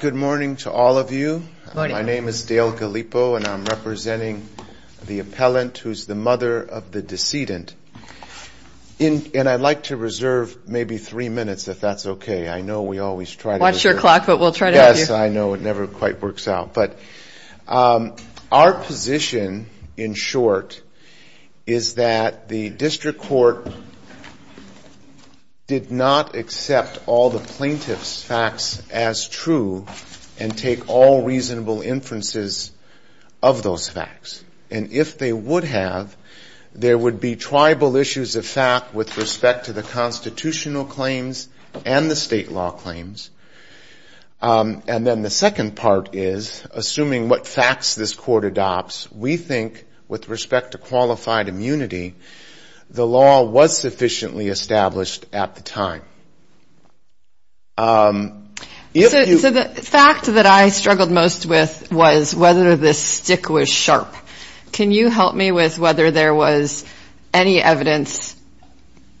Good morning to all of you. My name is Dale Galipo and I'm representing the appellant who's the mother of the decedent. And I'd like to reserve maybe three minutes if that's okay. I know we always try to watch your clock but we'll try to yes I know it never quite works out. But our position in short is that the plaintiff's facts as true and take all reasonable inferences of those facts. And if they would have, there would be tribal issues of fact with respect to the constitutional claims and the state law claims. And then the second part is assuming what facts this court adopts, we think with respect to qualified immunity, the law was sufficiently established at the time. So the fact that I struggled most with was whether this stick was sharp. Can you help me with whether there was any evidence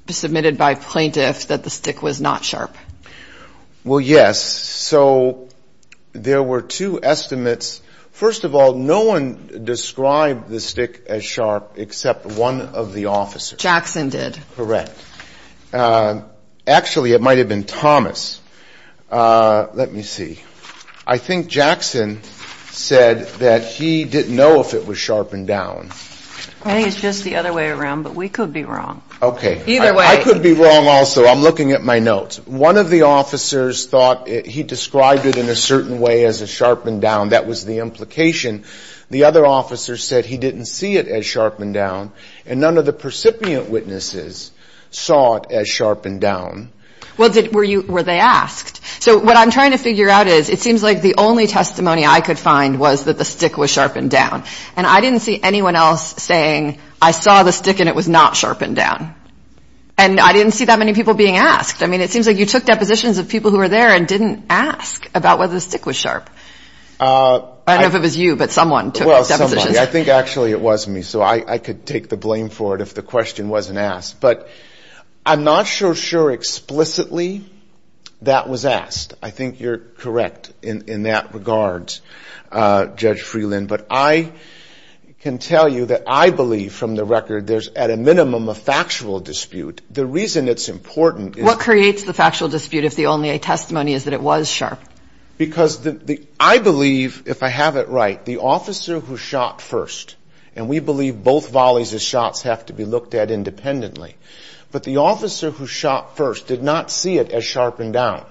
submitted by plaintiffs that the stick was not sharp? Well yes. So there were two estimates. First of all, no one described the stick as sharp except one of the officers. Jackson did. Correct. Actually it might have been Thomas. Let me see. I think Jackson said that he didn't know if it was sharpened down. I think it's just the other way around but we could be wrong. Either way. I could be wrong also. I'm looking at my notes. One of the officers thought he described it in a certain way as a sharpened down. That was the implication. The other officer said he didn't see it as sharpened down. And none of the plaintiff's witnesses saw it as sharpened down. Were they asked? So what I'm trying to figure out is it seems like the only testimony I could find was that the stick was sharpened down. And I didn't see anyone else saying I saw the stick and it was not sharpened down. And I didn't see that many people being asked. I mean it seems like you took depositions of people who were there and didn't ask about whether the stick was sharp. I don't know if it was you but someone took those depositions. I think actually it was me. So I could take the blame for it if the question wasn't asked. But I'm not so sure explicitly that was asked. I think you're correct in that regard, Judge Freeland. But I can tell you that I believe from the record there's at a minimum a factual dispute. The reason it's important is. What creates the factual dispute if the only testimony is that it was sharp? Because I believe, if I have it right, the officer who shot first. And we believe both volleys of shots have to be looked at independently. But the officer who shot first did not see it as sharpened down.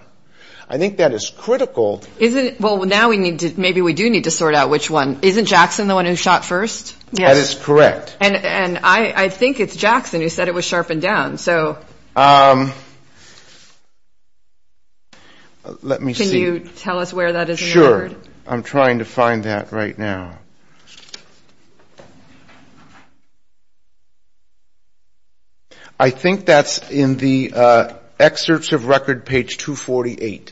I think that is critical. Well, now maybe we do need to sort out which one. Isn't Jackson the one who shot first? That is correct. And I think it's Jackson who said it was sharpened down. So let me see. Can you tell us where that is? Sure. I'm trying to find that right now. I think that's in the excerpts of record page 248.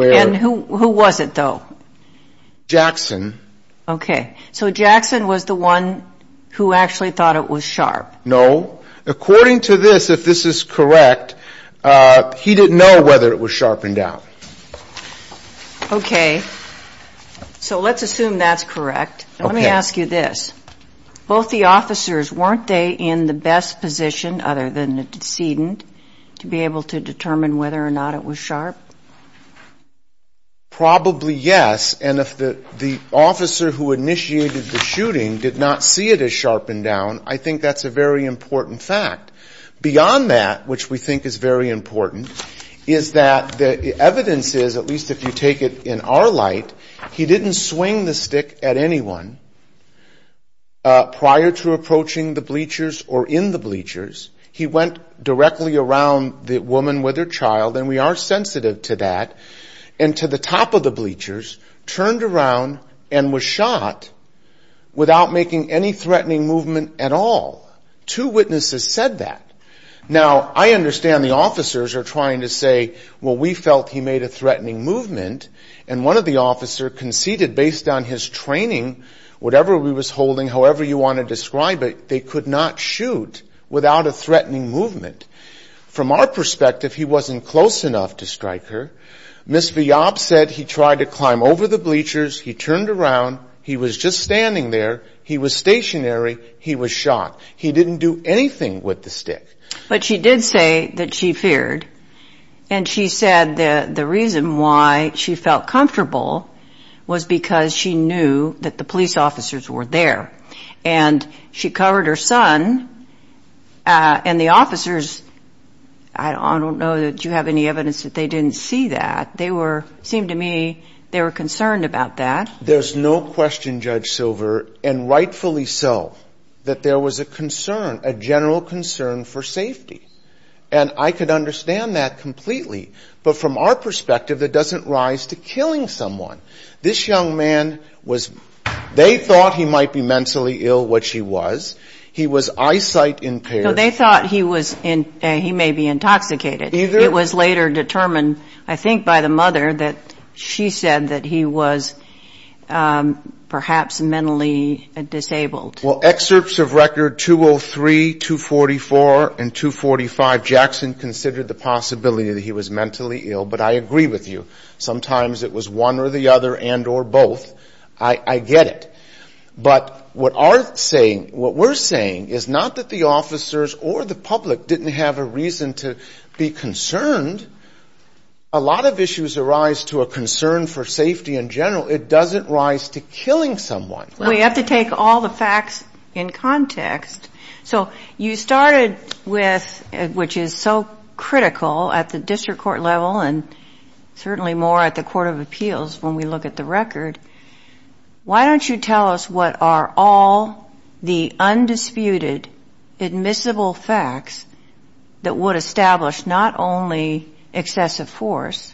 And who was it, though? Jackson. Okay. So Jackson was the one who actually thought it was sharp. No. According to this, if this is correct, he didn't know whether it was sharpened down. Okay. So let's assume that's correct. Let me ask you this. Both the officers, weren't they in the best position, other than the decedent, to be able to determine whether or not it was sharp? Probably yes. And if the officer who initiated the shooting did not see it as sharpened down, I think that's a very important fact. Beyond that, which we think is very important, is that the evidence is, at least if you take it in our light, he didn't swing the stick at anyone prior to approaching the bleachers or in the bleachers. He went directly around the woman with her child, and we are sensitive to that, and to the top of the bleachers, turned around and was shot without making any threatening movement at all. Two witnesses said that. Now, I understand the officers are trying to say, well, we felt he made a threatening movement, and one of the officers conceded, based on his training, whatever he was holding, however you want to describe it, they could not shoot without a threatening movement. From our perspective, he wasn't close enough to strike her. Ms. Viob said he tried to climb over the bleachers, he turned around, he was just standing there, he was stationary, he was shot. He didn't do anything with the stick. But she did say that she feared, and she said that the reason why she felt comfortable was because she knew that the police officers were there. And she covered her son, and the officers, I don't know that you have any evidence that they didn't see that. They were, it seemed to me, they were concerned about that. There's no question, Judge Silver, and rightfully so, that there was a concern, a general concern for safety. And I could understand that completely. But from our perspective, it doesn't rise to killing someone. This young man was, they thought he might be mentally ill, which he was. He was eyesight impaired. No, they thought he was, he may be intoxicated. It was later determined, I think by the mother, that she said that he was perhaps mentally disabled. Well, excerpts of record 203, 244, and 245, Jackson considered the possibility that he was mentally ill. But I agree with you, sometimes it was one or the other and or both. I get it. But what we're saying is not that the officers or the public didn't have a reason to be concerned. A lot of issues arise to a concern for safety in general. It doesn't rise to killing someone. So you started with, which is so critical at the district court level and certainly more at the court of appeals when we look at the record, why don't you tell us what are all the undisputed admissible facts that would establish not only excessive force,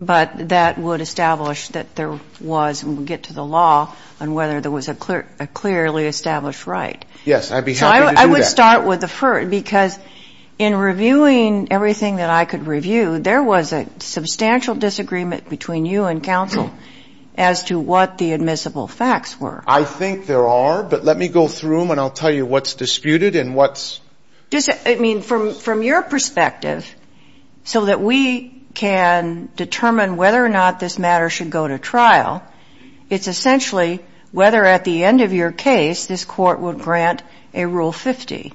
but that would establish that there was, and we'll get to the law, on whether there was a clearly established right. Yes, I'd be happy to do that. So I would start with the first, because in reviewing everything that I could review, there was a substantial disagreement between you and counsel as to what the admissible facts were. I think there are, but let me go through them and I'll tell you what's disputed and what's... I mean, from your perspective, so that we can determine whether or not this matter should go to trial, it's essentially whether at the end of your case this court would grant a Rule 50.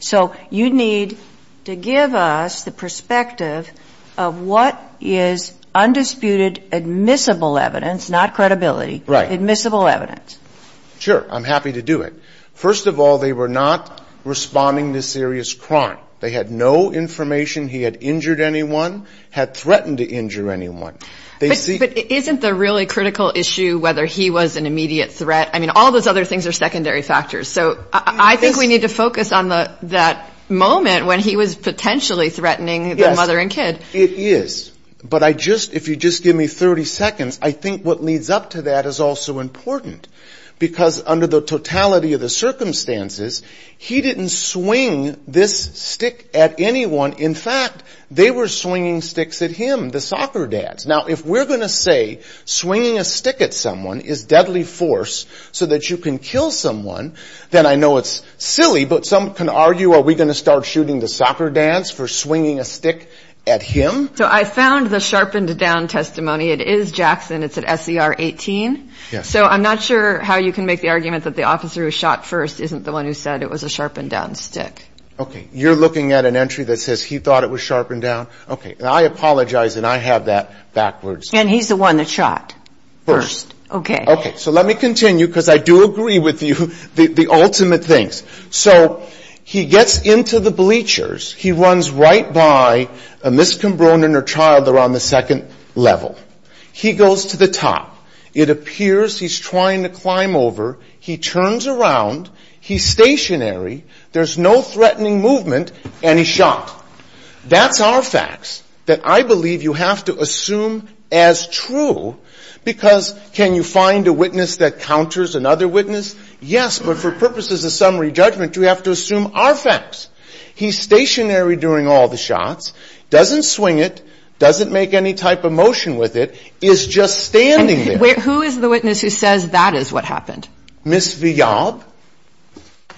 So you need to give us the perspective of what is undisputed admissible evidence, not credibility, admissible evidence. Sure. I'm happy to do it. First of all, they were not responding to serious crime. They had no information. He had injured anyone, had threatened to injure anyone. But isn't the really critical issue whether he was an immediate threat? I mean, all those other things are secondary factors. So I think we need to focus on that moment when he was potentially threatening the mother and kid. Yes, it is. But if you just give me 30 seconds, I think what leads up to that is also important. Because under the totality of the circumstances, he didn't swing this stick at anyone. In fact, they were swinging sticks at him, the soccer dads. Now, if we're going to say swinging a stick at someone is deadly force so that you can kill someone, then I know it's silly, but some can argue, are we going to start shooting the soccer dads for swinging a stick at him? So I found the sharpened down testimony. It is Jackson. It's at SER 18. So I'm not sure how you can make the argument that the officer who was shot first isn't the one who said it was a sharpened down stick. Okay. You're looking at an entry that says he thought it was sharpened down? Okay. And I apologize, and I have that backwards. And he's the one that shot first. Okay. Okay. So let me continue, because I do agree with you, the ultimate things. So he gets into the bleachers. He runs right by a miscombronen or child that are on the second level. He goes to the top. It appears he's trying to climb over. He turns around. He's stationary. There's no threatening movement, and he's shot. That's our facts that I believe you have to assume as true, because can you find a witness that counters another witness? Yes, but for purposes of summary judgment, you have to assume our facts. He's stationary during all the shots, doesn't swing it, doesn't make any type of motion with it, is just standing there. Who is the witness who says that is what happened? Ms. Viab.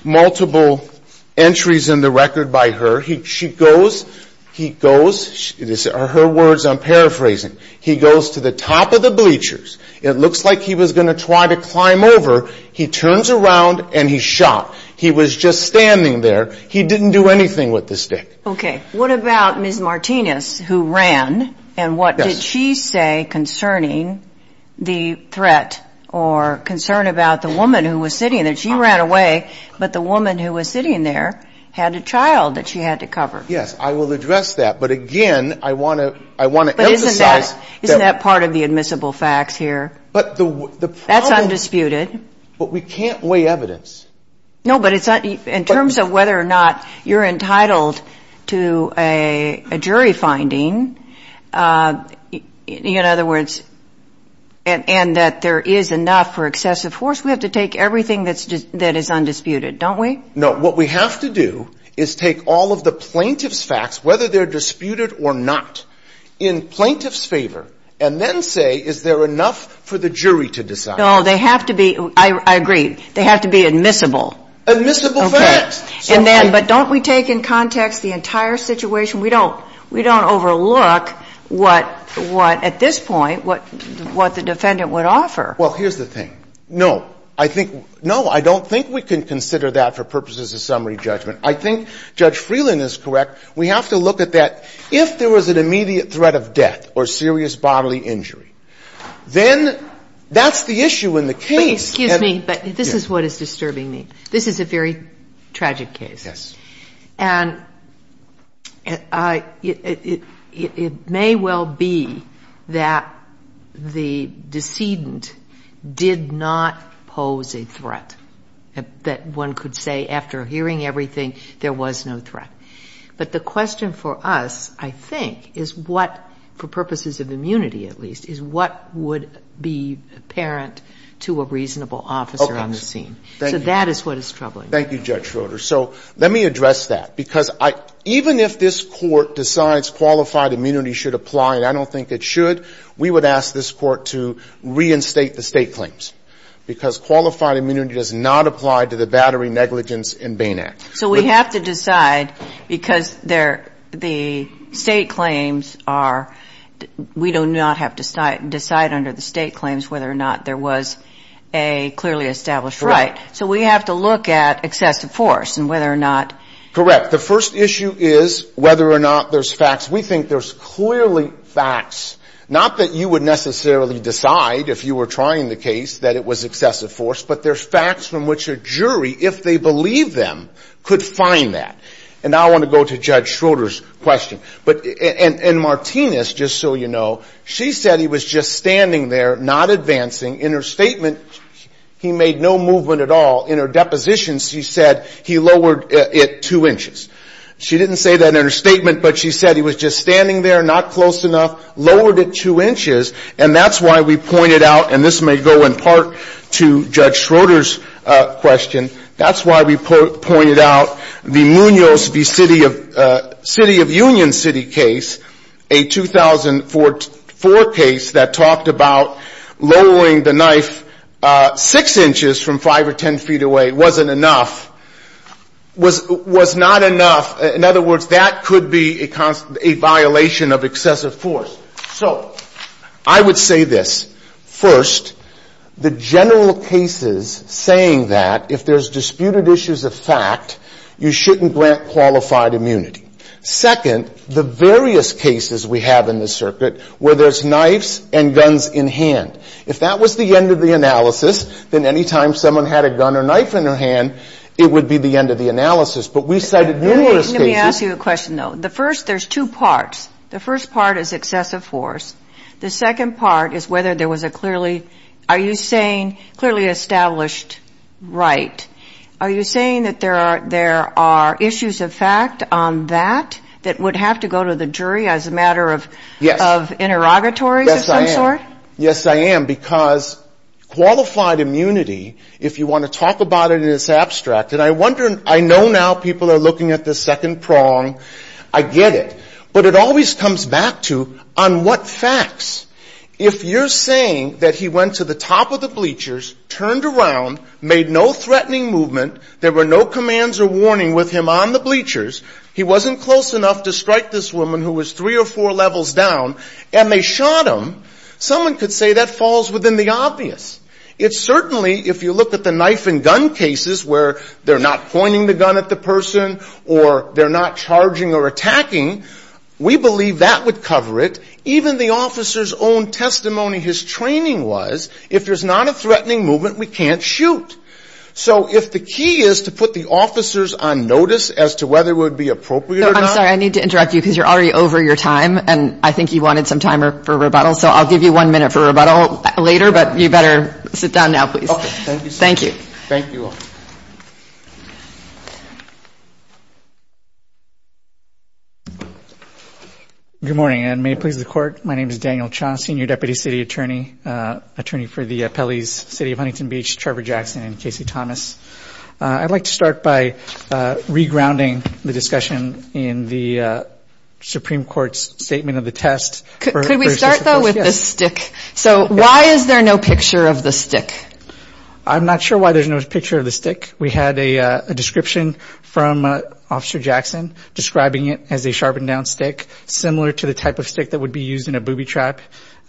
Multiple entries in the record by her. She goes, he goes, her words, I'm paraphrasing, he goes to the top of the bleachers. It looks like he was going to try to climb over. He turns around, and he's shot. He was just standing there. He didn't do anything with the stick. Okay. What about Ms. Martinez, who ran, and what did she say concerning the threat or concern about the woman who was sitting there? She ran away, but the woman who was sitting there had a child that she had to cover. Yes, I will address that, but again, I want to emphasize that. But isn't that part of the admissible facts here? That's undisputed. But we can't weigh evidence. No, but in terms of whether or not you're entitled to a jury finding, in other words, and that there is enough for excessive force, we have to take everything that is undisputed, don't we? No, what we have to do is take all of the plaintiff's facts, whether they're disputed or not, in plaintiff's favor, and then say, is there enough for the jury to decide? No, they have to be, I agree, they have to be admissible. Admissible facts. And then, but don't we take in context the entire situation? We don't overlook what, at this point, what the defendant would offer. Well, here's the thing. No, I think, no, I don't think we can consider that for purposes of summary judgment. I think Judge Freeland is correct. We have to look at that. If there was an immediate threat of death or serious bodily injury, then that's the issue in the case. But excuse me, but this is what is disturbing me. This is a very tragic case. Yes. And it may well be that the decedent did not pose a threat, that one could say after hearing everything, there was no threat. But the question for us, I think, is what, for purposes of immunity, at least, is what would be apparent to a reasonable officer on the scene. Okay. Thank you. So that is what is troubling me. Thank you, Judge Schroeder. So let me address that. Because even if this Court decides qualified immunity should apply, and I don't think it should, we would ask this Court to reinstate the State claims. Because qualified immunity does not apply to the battery negligence in Bain Act. So we have to decide, because the State claims are, we do not have to decide under the State claims whether or not there was a clearly established right. Right. So we have to look at excessive force and whether or not. Correct. The first issue is whether or not there's facts. We think there's clearly facts, not that you would necessarily decide, if you were trying the case, that it was excessive force, but there's facts from which a jury, if they believe them, could find that. And I want to go to Judge Schroeder's question. And Martinez, just so you know, she said he was just standing there, not advancing. In her statement, he made no movement at all. In her depositions, she said he lowered it two inches. She didn't say that in her statement, but she said he was just standing there, not close enough, lowered it two inches. And that's why we pointed out, and this may go in part to Judge Schroeder's question, that's why we pointed out the Munoz v. City of Union City case, a 2004 case that talked about lowering the knife six inches from five or ten feet away wasn't enough, was not enough. In other words, that could be a violation of excessive force. So I would say this. First, the general cases saying that if there's disputed issues of fact, you shouldn't grant qualified immunity. Second, the various cases we have in this circuit where there's knives and guns in hand. If that was the end of the analysis, then any time someone had a gun or knife in their hand, it would be the end of the analysis. But we cited numerous cases. Let me ask you a question, though. The first, there's two parts. The first part is excessive force. The second part is whether there was a clearly, are you saying, clearly established right. Are you saying that there are issues of fact on that that would have to go to the jury as a matter of interrogatories of some sort? Yes, I am. Yes, I am. Because qualified immunity, if you want to talk about it in this abstract, and I wonder, I know now people are looking at the second prong. I get it. But it always comes back to on what facts. If you're saying that he went to the top of the bleachers, turned around, made no threatening movement, there were no commands or warning with him on the bleachers, he wasn't close enough to strike this woman who was three or four levels down, and they shot him, someone could say that falls within the obvious. It certainly, if you look at the knife and gun cases where they're not pointing the gun at the person or they're not charging or attacking, we believe that would cover it. Even the officer's own testimony, his training was, if there's not a threatening movement, we can't shoot. So if the key is to put the officers on notice as to whether it would be appropriate or not. I'm sorry. I need to interrupt you because you're already over your time, and I think you wanted some time for rebuttal, so I'll give you one minute for rebuttal later, but you better sit down now, please. Okay. Thank you. Thank you. Thank you all. Good morning, and may it please the Court. My name is Daniel Cha, Senior Deputy City Attorney, attorney for the Pelley's City of Huntington Beach, Trevor Jackson and Casey Thomas. I'd like to start by re-grounding the discussion in the Supreme Court's statement of the test. Could we start, though, with the stick? So why is there no picture of the stick? I'm not sure why there's no picture of the stick. We had a description from Officer Jackson describing it as a sharpened-down stick, similar to the type of stick that would be used in a booby trap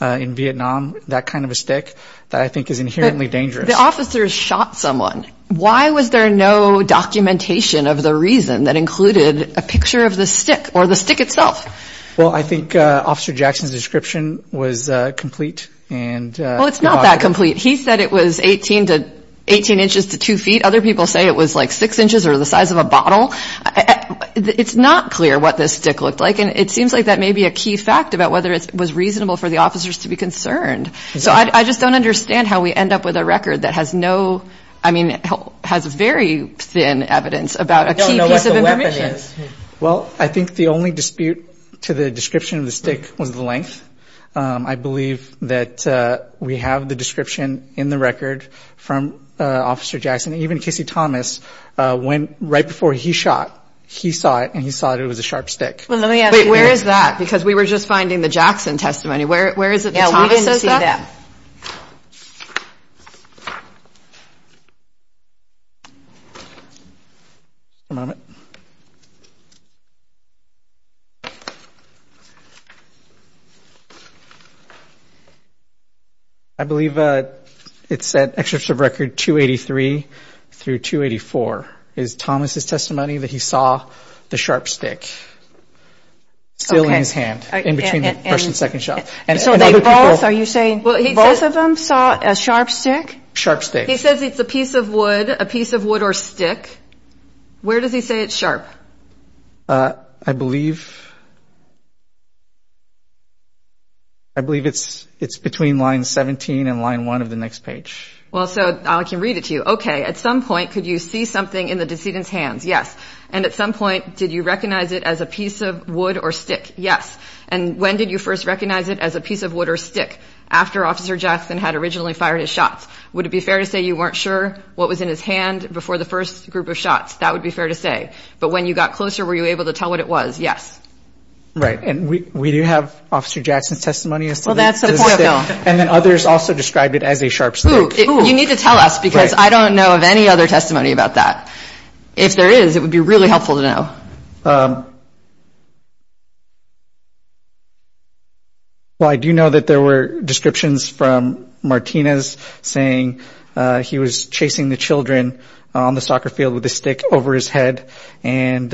in Vietnam, that kind of a stick that I think is inherently dangerous. But the officers shot someone. Why was there no documentation of the reason that included a picture of the stick or the stick itself? Well, I think Officer Jackson's description was complete and provocative. Well, it's not that complete. He said it was 18 inches to 2 feet. Other people say it was like 6 inches or the size of a bottle. It's not clear what this stick looked like, and it seems like that may be a key fact about whether it was reasonable for the officers to be concerned. So I just don't understand how we end up with a record that has no, I mean, has very thin evidence about a key piece of information. I don't know what the weapon is. Well, I think the only dispute to the description of the stick was the length. I believe that we have the description in the record from Officer Jackson. Even Casey Thomas, right before he shot, he saw it, and he saw it was a sharp stick. Wait, where is that? Because we were just finding the Jackson testimony. Where is it that Thomas says that? Yeah, we didn't see that. One moment. I believe it's at Excerpts of Record 283 through 284. It's Thomas' testimony that he saw the sharp stick. Still in his hand, in between the first and second shot. So they both, are you saying both of them saw a sharp stick? Sharp stick. He says it's a piece of wood, a piece of wood or stick. Where does he say it's sharp? I believe it's between line 17 and line 1 of the next page. Well, so I can read it to you. Okay, at some point, could you see something in the decedent's hands? Yes. And at some point, did you recognize it as a piece of wood or stick? Yes. And when did you first recognize it as a piece of wood or stick? After Officer Jackson had originally fired his shots. Would it be fair to say you weren't sure what was in his hand before the first group of shots? That would be fair to say. But when you got closer, were you able to tell what it was? Yes. Right. And we do have Officer Jackson's testimony as to this. Well, that's the point, though. And then others also described it as a sharp stick. You need to tell us, because I don't know of any other testimony about that. If there is, it would be really helpful to know. Well, I do know that there were descriptions from Martinez saying he was chasing the children on the soccer field with a stick over his head. And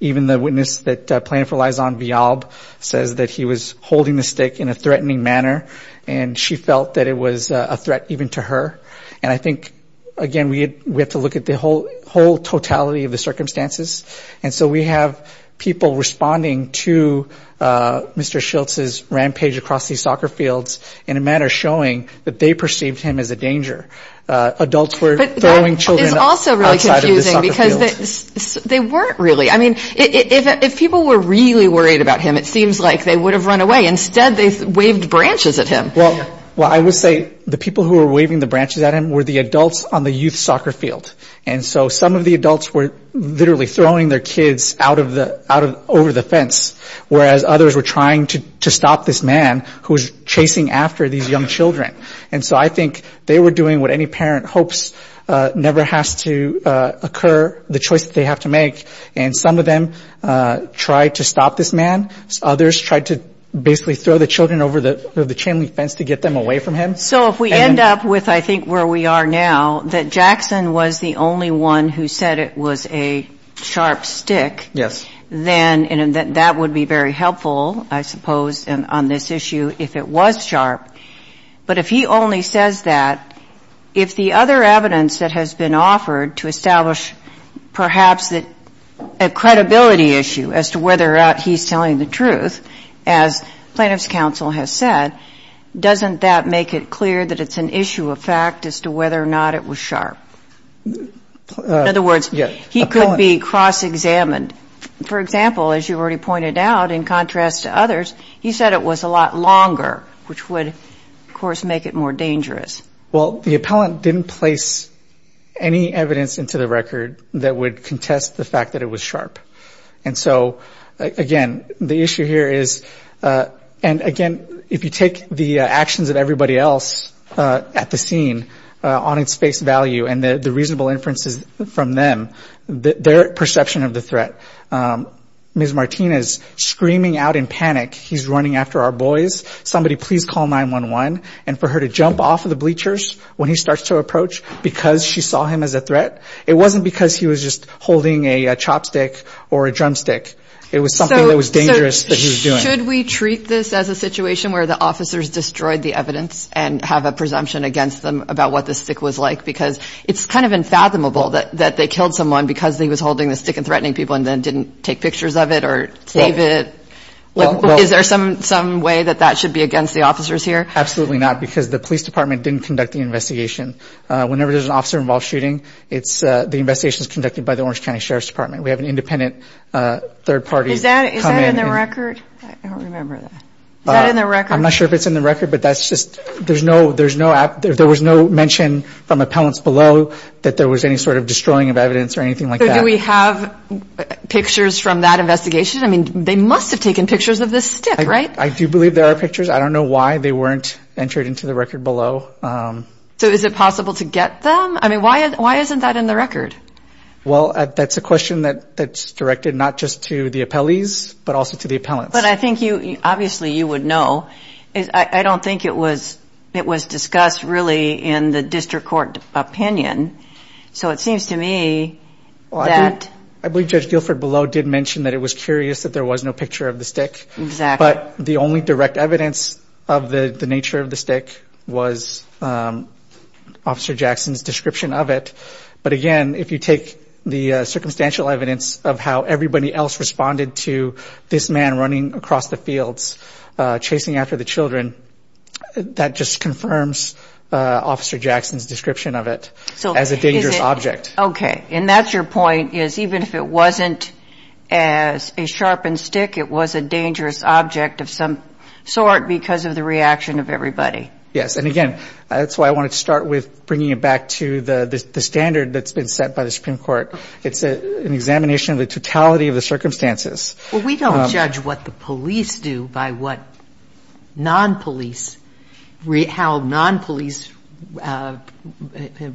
even the witness that planned for Laison Villalbe says that he was holding the stick in a threatening manner, and she felt that it was a threat even to her. And I think, again, we have to look at the whole totality of the circumstances. And so we have people responding to Mr. Schiltz's rampage across these soccer fields in a manner showing that they perceived him as a danger. Adults were throwing children outside of the soccer field. But that is also really confusing, because they weren't really. I mean, if people were really worried about him, it seems like they would have run away. Instead, they waved branches at him. Well, I would say the people who were waving the branches at him were the adults on the youth soccer field. And so some of the adults were literally throwing their kids over the fence, whereas others were trying to stop this man who was chasing after these young children. And so I think they were doing what any parent hopes never has to occur, the choice that they have to make. And some of them tried to stop this man. Others tried to basically throw the children over the chimney fence to get them away from him. So if we end up with, I think, where we are now, that Jackson was the only one who said it was a sharp stick. Yes. Then that would be very helpful, I suppose, on this issue if it was sharp. But if he only says that, if the other evidence that has been offered to establish perhaps a credibility issue as to whether or not he's telling the truth, as plaintiff's counsel has said, doesn't that make it clear that it's an issue of fact as to whether or not it was sharp? In other words, he could be cross-examined. For example, as you already pointed out, in contrast to others, he said it was a lot longer, which would, of course, make it more dangerous. Well, the appellant didn't place any evidence into the record that would contest the fact that it was sharp. And so, again, the issue here is, and again, if you take the actions of everybody else at the scene on its face value and the reasonable inferences from them, their perception of the threat, Ms. Martinez screaming out in panic, he's running after our boys, somebody please call 911, and for her to jump off of the bleachers when he starts to approach because she saw him as a threat, it wasn't because he was just holding a chopstick or a drumstick. It was something that was dangerous that he was doing. So should we treat this as a situation where the officers destroyed the evidence and have a presumption against them about what the stick was like? Because it's kind of unfathomable that they killed someone because he was holding the stick and threatening people and then didn't take pictures of it or save it. Is there some way that that should be against the officers here? Absolutely not, because the police department didn't conduct the investigation. Whenever there's an officer-involved shooting, the investigation is conducted by the Orange County Sheriff's Department. We have an independent third party come in. Is that in the record? I don't remember that. Is that in the record? I'm not sure if it's in the record, but there was no mention from appellants below that there was any sort of destroying of evidence or anything like that. Do we have pictures from that investigation? I mean, they must have taken pictures of this stick, right? I do believe there are pictures. I don't know why they weren't entered into the record below. So is it possible to get them? I mean, why isn't that in the record? Well, that's a question that's directed not just to the appellees, but also to the appellants. But I think obviously you would know. I don't think it was discussed really in the district court opinion. So it seems to me that... I believe Judge Guilford below did mention that it was curious that there was no picture of the stick. But the only direct evidence of the nature of the stick was Officer Jackson's description of it. But again, if you take the circumstantial evidence of how everybody else responded to this man running across the fields, chasing after the children, that just confirms Officer Jackson's description of it as a dangerous object. Okay. And that's your point, is even if it wasn't as a sharpened stick, it was a dangerous object of some sort because of the reaction of everybody. Yes. And again, that's why I wanted to start with bringing it back to the standard that's been set by the Supreme Court. It's an examination of the totality of the circumstances. Well, we don't judge what the police do by how non-police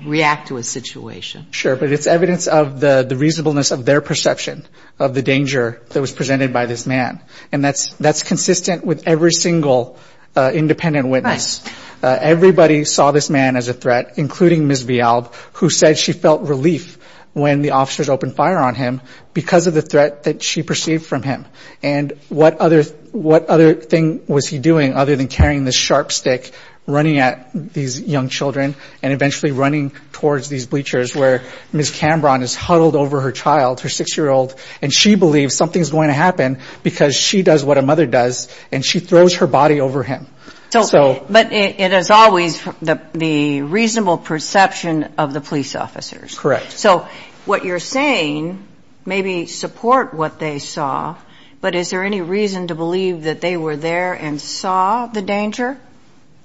react to a situation. Sure. But it's evidence of the reasonableness of their perception of the danger that was presented by this man. And that's consistent with every single independent witness. Everybody saw this man as a threat, including Ms. Vialb, who said she felt relief when the officers opened fire on him because of the threat that she perceived from him. And what other thing was he doing other than carrying this sharp stick, running at these young children, and eventually running towards these bleachers where Ms. Cambron is huddled over her child, her 6-year-old, and she believes something's going to happen because she does what a mother does, and she throws her body over him. But it is always the reasonable perception of the police officers. Correct. So what you're saying, maybe support what they saw, but is there any reason to believe that they were there and saw the danger?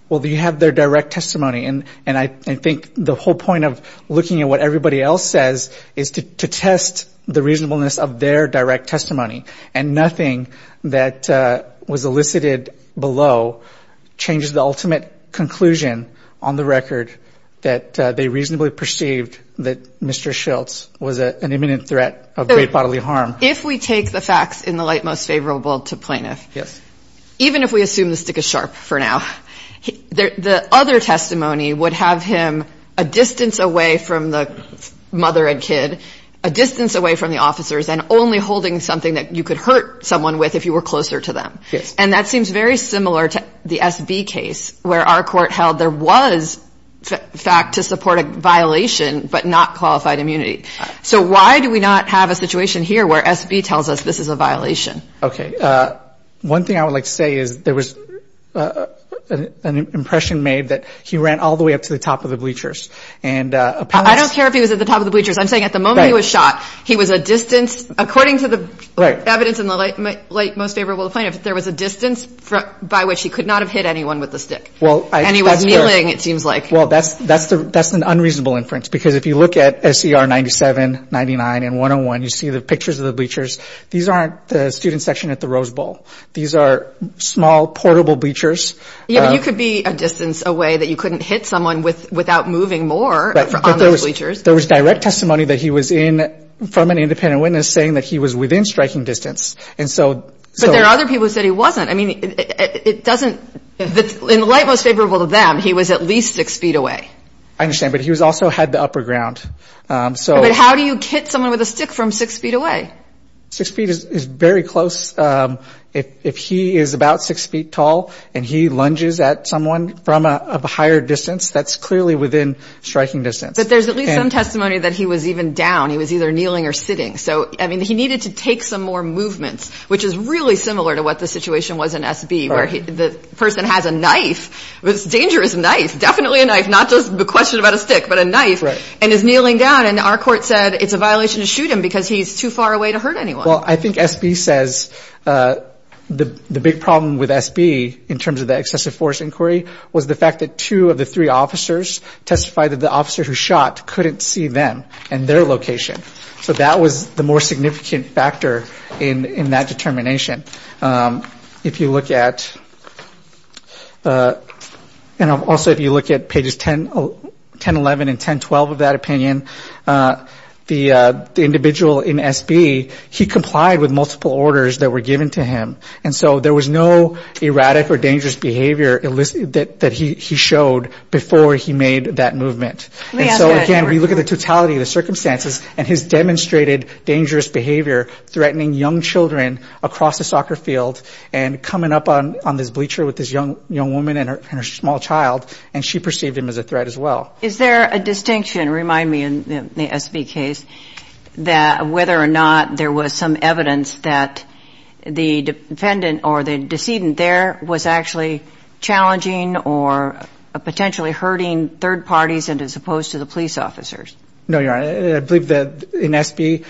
Well, you have their direct testimony, and I think the whole point of looking at what everybody else says is to test the reasonableness of their direct testimony. And nothing that was elicited below changes the ultimate conclusion on the record that they reasonably perceived that Mr. Schiltz was an imminent threat of great bodily harm. If we take the facts in the light most favorable to plaintiff, even if we assume the stick is sharp for now, the other testimony would have him a distance away from the mother and kid, a distance away from the officers, and only holding something that you could hurt someone with if you were closer to them. And that seems very similar to the SB case where our court held there was fact to support a violation but not qualified immunity. So why do we not have a situation here where SB tells us this is a violation? Okay. One thing I would like to say is there was an impression made that he ran all the way up to the top of the bleachers. I don't care if he was at the top of the bleachers. I'm saying at the moment he was shot, he was a distance, according to the evidence in the light most favorable to plaintiff, there was a distance by which he could not have hit anyone with the stick. And he was kneeling, it seems like. Well, that's an unreasonable inference, because if you look at SCR 97, 99, and 101, you see the pictures of the bleachers. These aren't the student section at the Rose Bowl. These are small, portable bleachers. Yeah, but you could be a distance away that you couldn't hit someone without moving more on those bleachers. There was direct testimony that he was in from an independent witness saying that he was within striking distance. But there are other people who said he wasn't. I mean, it doesn't – in the light most favorable to them, he was at least six feet away. I understand, but he also had the upper ground. But how do you hit someone with a stick from six feet away? Six feet is very close. If he is about six feet tall and he lunges at someone from a higher distance, that's clearly within striking distance. But there's at least some testimony that he was even down. He was either kneeling or sitting. So, I mean, he needed to take some more movements, which is really similar to what the situation was in SB, where the person has a knife, a dangerous knife, definitely a knife, not just a question about a stick, but a knife, and is kneeling down. And our court said it's a violation to shoot him because he's too far away to hurt anyone. Well, I think SB says the big problem with SB in terms of the excessive force inquiry was the fact that two of the three officers testified that the officer who shot couldn't see them and their location. So that was the more significant factor in that determination. If you look at, and also if you look at pages 1011 and 1012 of that opinion, the individual in SB, he complied with multiple orders that were given to him. And so there was no erratic or dangerous behavior that he showed before he made that movement. And so, again, we look at the totality of the circumstances and his demonstrated dangerous behavior, threatening young children across the soccer field and coming up on this bleacher with this young woman and her small child, and she perceived him as a threat as well. Is there a distinction, remind me, in the SB case, that whether or not there was some evidence that the defendant or the decedent there was actually challenging or potentially hurting third parties and as opposed to the police officers? No, Your Honor. I believe that in SB,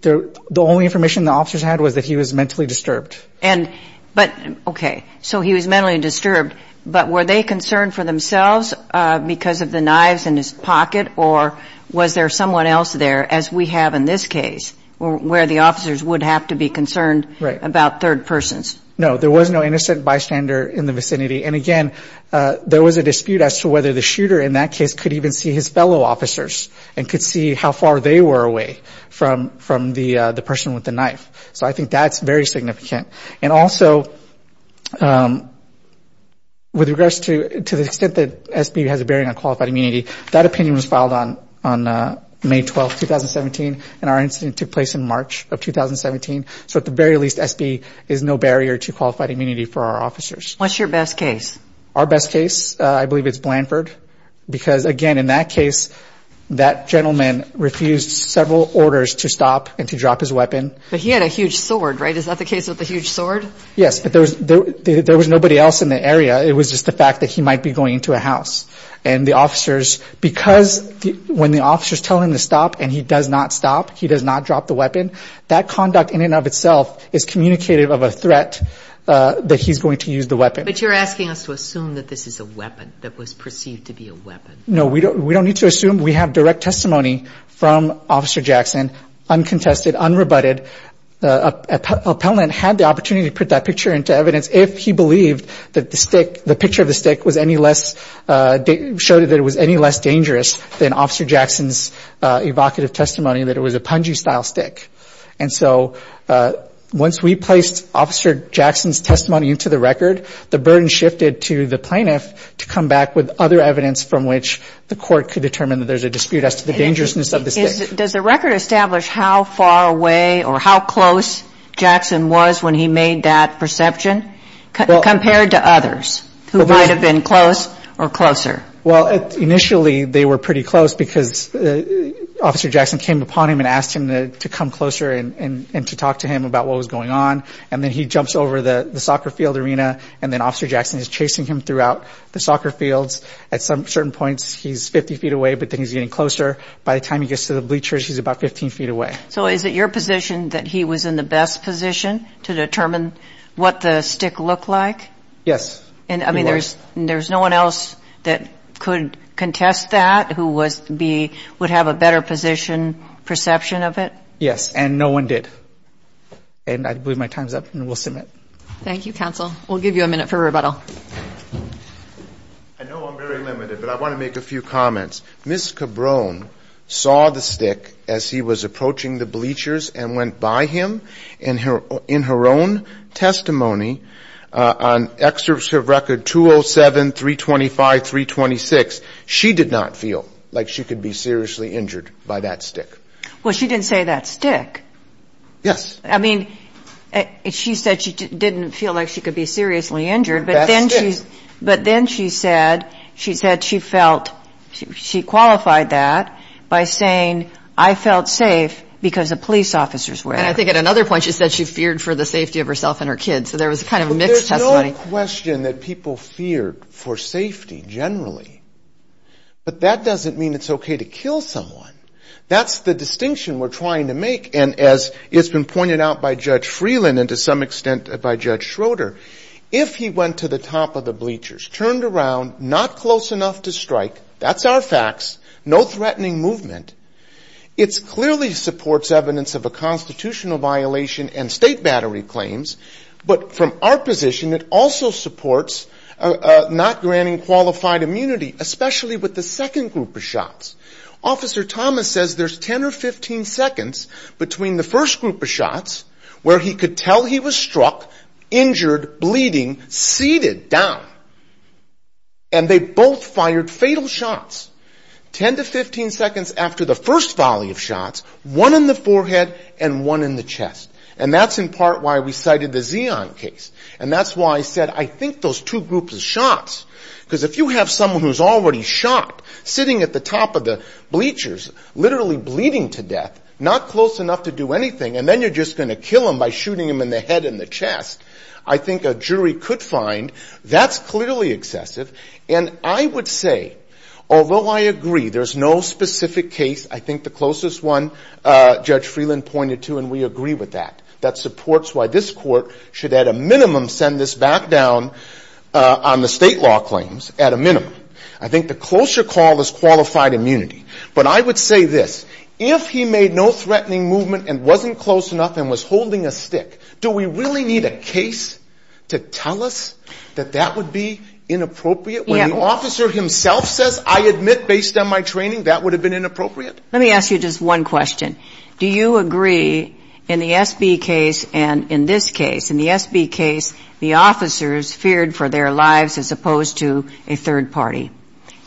the only information the officers had was that he was mentally disturbed. But, okay, so he was mentally disturbed, but were they concerned for themselves because of the knives in his pocket, or was there someone else there, as we have in this case, where the officers would have to be concerned about third persons? No, there was no innocent bystander in the vicinity. And, again, there was a dispute as to whether the shooter in that case could even see his fellow officers and could see how far they were away from the person with the knife. So I think that's very significant. And also, with regards to the extent that SB has a bearing on qualified immunity, that opinion was filed on May 12, 2017, and our incident took place in March of 2017. So at the very least, SB is no barrier to qualified immunity for our officers. What's your best case? Our best case, I believe it's Blanford, because, again, in that case, that gentleman refused several orders to stop and to drop his weapon. But he had a huge sword, right? Is that the case with the huge sword? Yes, but there was nobody else in the area. It was just the fact that he might be going into a house. And the officers, because when the officers tell him to stop and he does not stop, he does not drop the weapon, that conduct in and of itself is communicative of a threat that he's going to use the weapon. But you're asking us to assume that this is a weapon that was perceived to be a weapon. No, we don't need to assume. We have direct testimony from Officer Jackson, uncontested, unrebutted. Appellant had the opportunity to put that picture into evidence if he believed that the stick, the picture of the stick was any less, showed that it was any less dangerous than Officer Jackson's evocative testimony that it was a punji-style stick. And so once we placed Officer Jackson's testimony into the record, the burden shifted to the plaintiff to come back with other evidence from which the court could determine that there's a dispute as to the dangerousness of the stick. Does the record establish how far away or how close Jackson was when he made that perception, compared to others who might have been close or closer? Well, initially they were pretty close because Officer Jackson came upon him and asked him to come closer and to talk to him about what was going on, and then he jumps over the soccer field arena and then Officer Jackson is chasing him throughout the soccer fields. At certain points he's 50 feet away, but then he's getting closer. By the time he gets to the bleachers, he's about 15 feet away. So is it your position that he was in the best position to determine what the stick looked like? Yes, it was. And, I mean, there's no one else that could contest that who would have a better position, perception of it? Yes, and no one did. And I believe my time's up, and we'll submit. Thank you, counsel. We'll give you a minute for rebuttal. I know I'm very limited, but I want to make a few comments. Ms. Cabrone saw the stick as he was approaching the bleachers and went by him in her own testimony on Excerpt of Record 207-325-326. She did not feel like she could be seriously injured by that stick. Well, she didn't say that stick. I mean, she said she didn't feel like she could be seriously injured, but then she said she felt she qualified that by saying, I felt safe because the police officers were there. And I think at another point she said she feared for the safety of herself and her kids. So there was kind of a mixed testimony. But that doesn't mean it's okay to kill someone. That's the distinction we're trying to make. And as it's been pointed out by Judge Freeland and to some extent by Judge Schroeder, if he went to the top of the bleachers, turned around, not close enough to strike, that's our facts, no threatening movement. It clearly supports evidence of a constitutional violation and state battery claims, but from our position it also supports not granting qualified immunity, especially with the second group of shots. Officer Thomas says there's 10 or 15 seconds between the first group of shots where he could tell he was struck, injured, bleeding, seated, down. And they both fired fatal shots. 10 to 15 seconds after the first volley of shots, one in the forehead and one in the chest. And that's in part why we cited the Zeon case. And that's why I said I think those two groups of shots, because if you have someone who's already shot, sitting at the top of the bleachers, literally bleeding to death, not close enough to do anything, and then you're just going to kill them by shooting them in the head and the chest, I think a jury could find that's clearly excessive. And I would say, although I agree there's no specific case, I think the closest one Judge Freeland pointed to, and we agree with that, that supports why this court should at a minimum send this back down on the state law claims, I think the closer call is qualified immunity. But I would say this, if he made no threatening movement and wasn't close enough and was holding a stick, do we really need a case to tell us that that would be inappropriate? When the officer himself says, I admit based on my training, that would have been inappropriate? Let me ask you just one question. Do you agree in the SB case and in this case, in the SB case, the officers feared for their lives as opposed to a third party,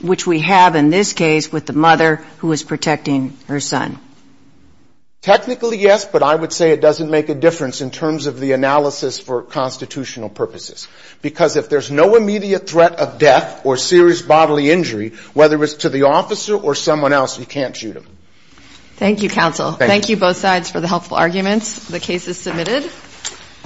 which we have in this case with the mother who is protecting her son? Technically, yes, but I would say it doesn't make a difference in terms of the analysis for constitutional purposes. Because if there's no immediate threat of death or serious bodily injury, whether it's to the officer or someone else, you can't shoot him. Thank you, counsel. Thank you both sides for the helpful arguments. The case is submitted.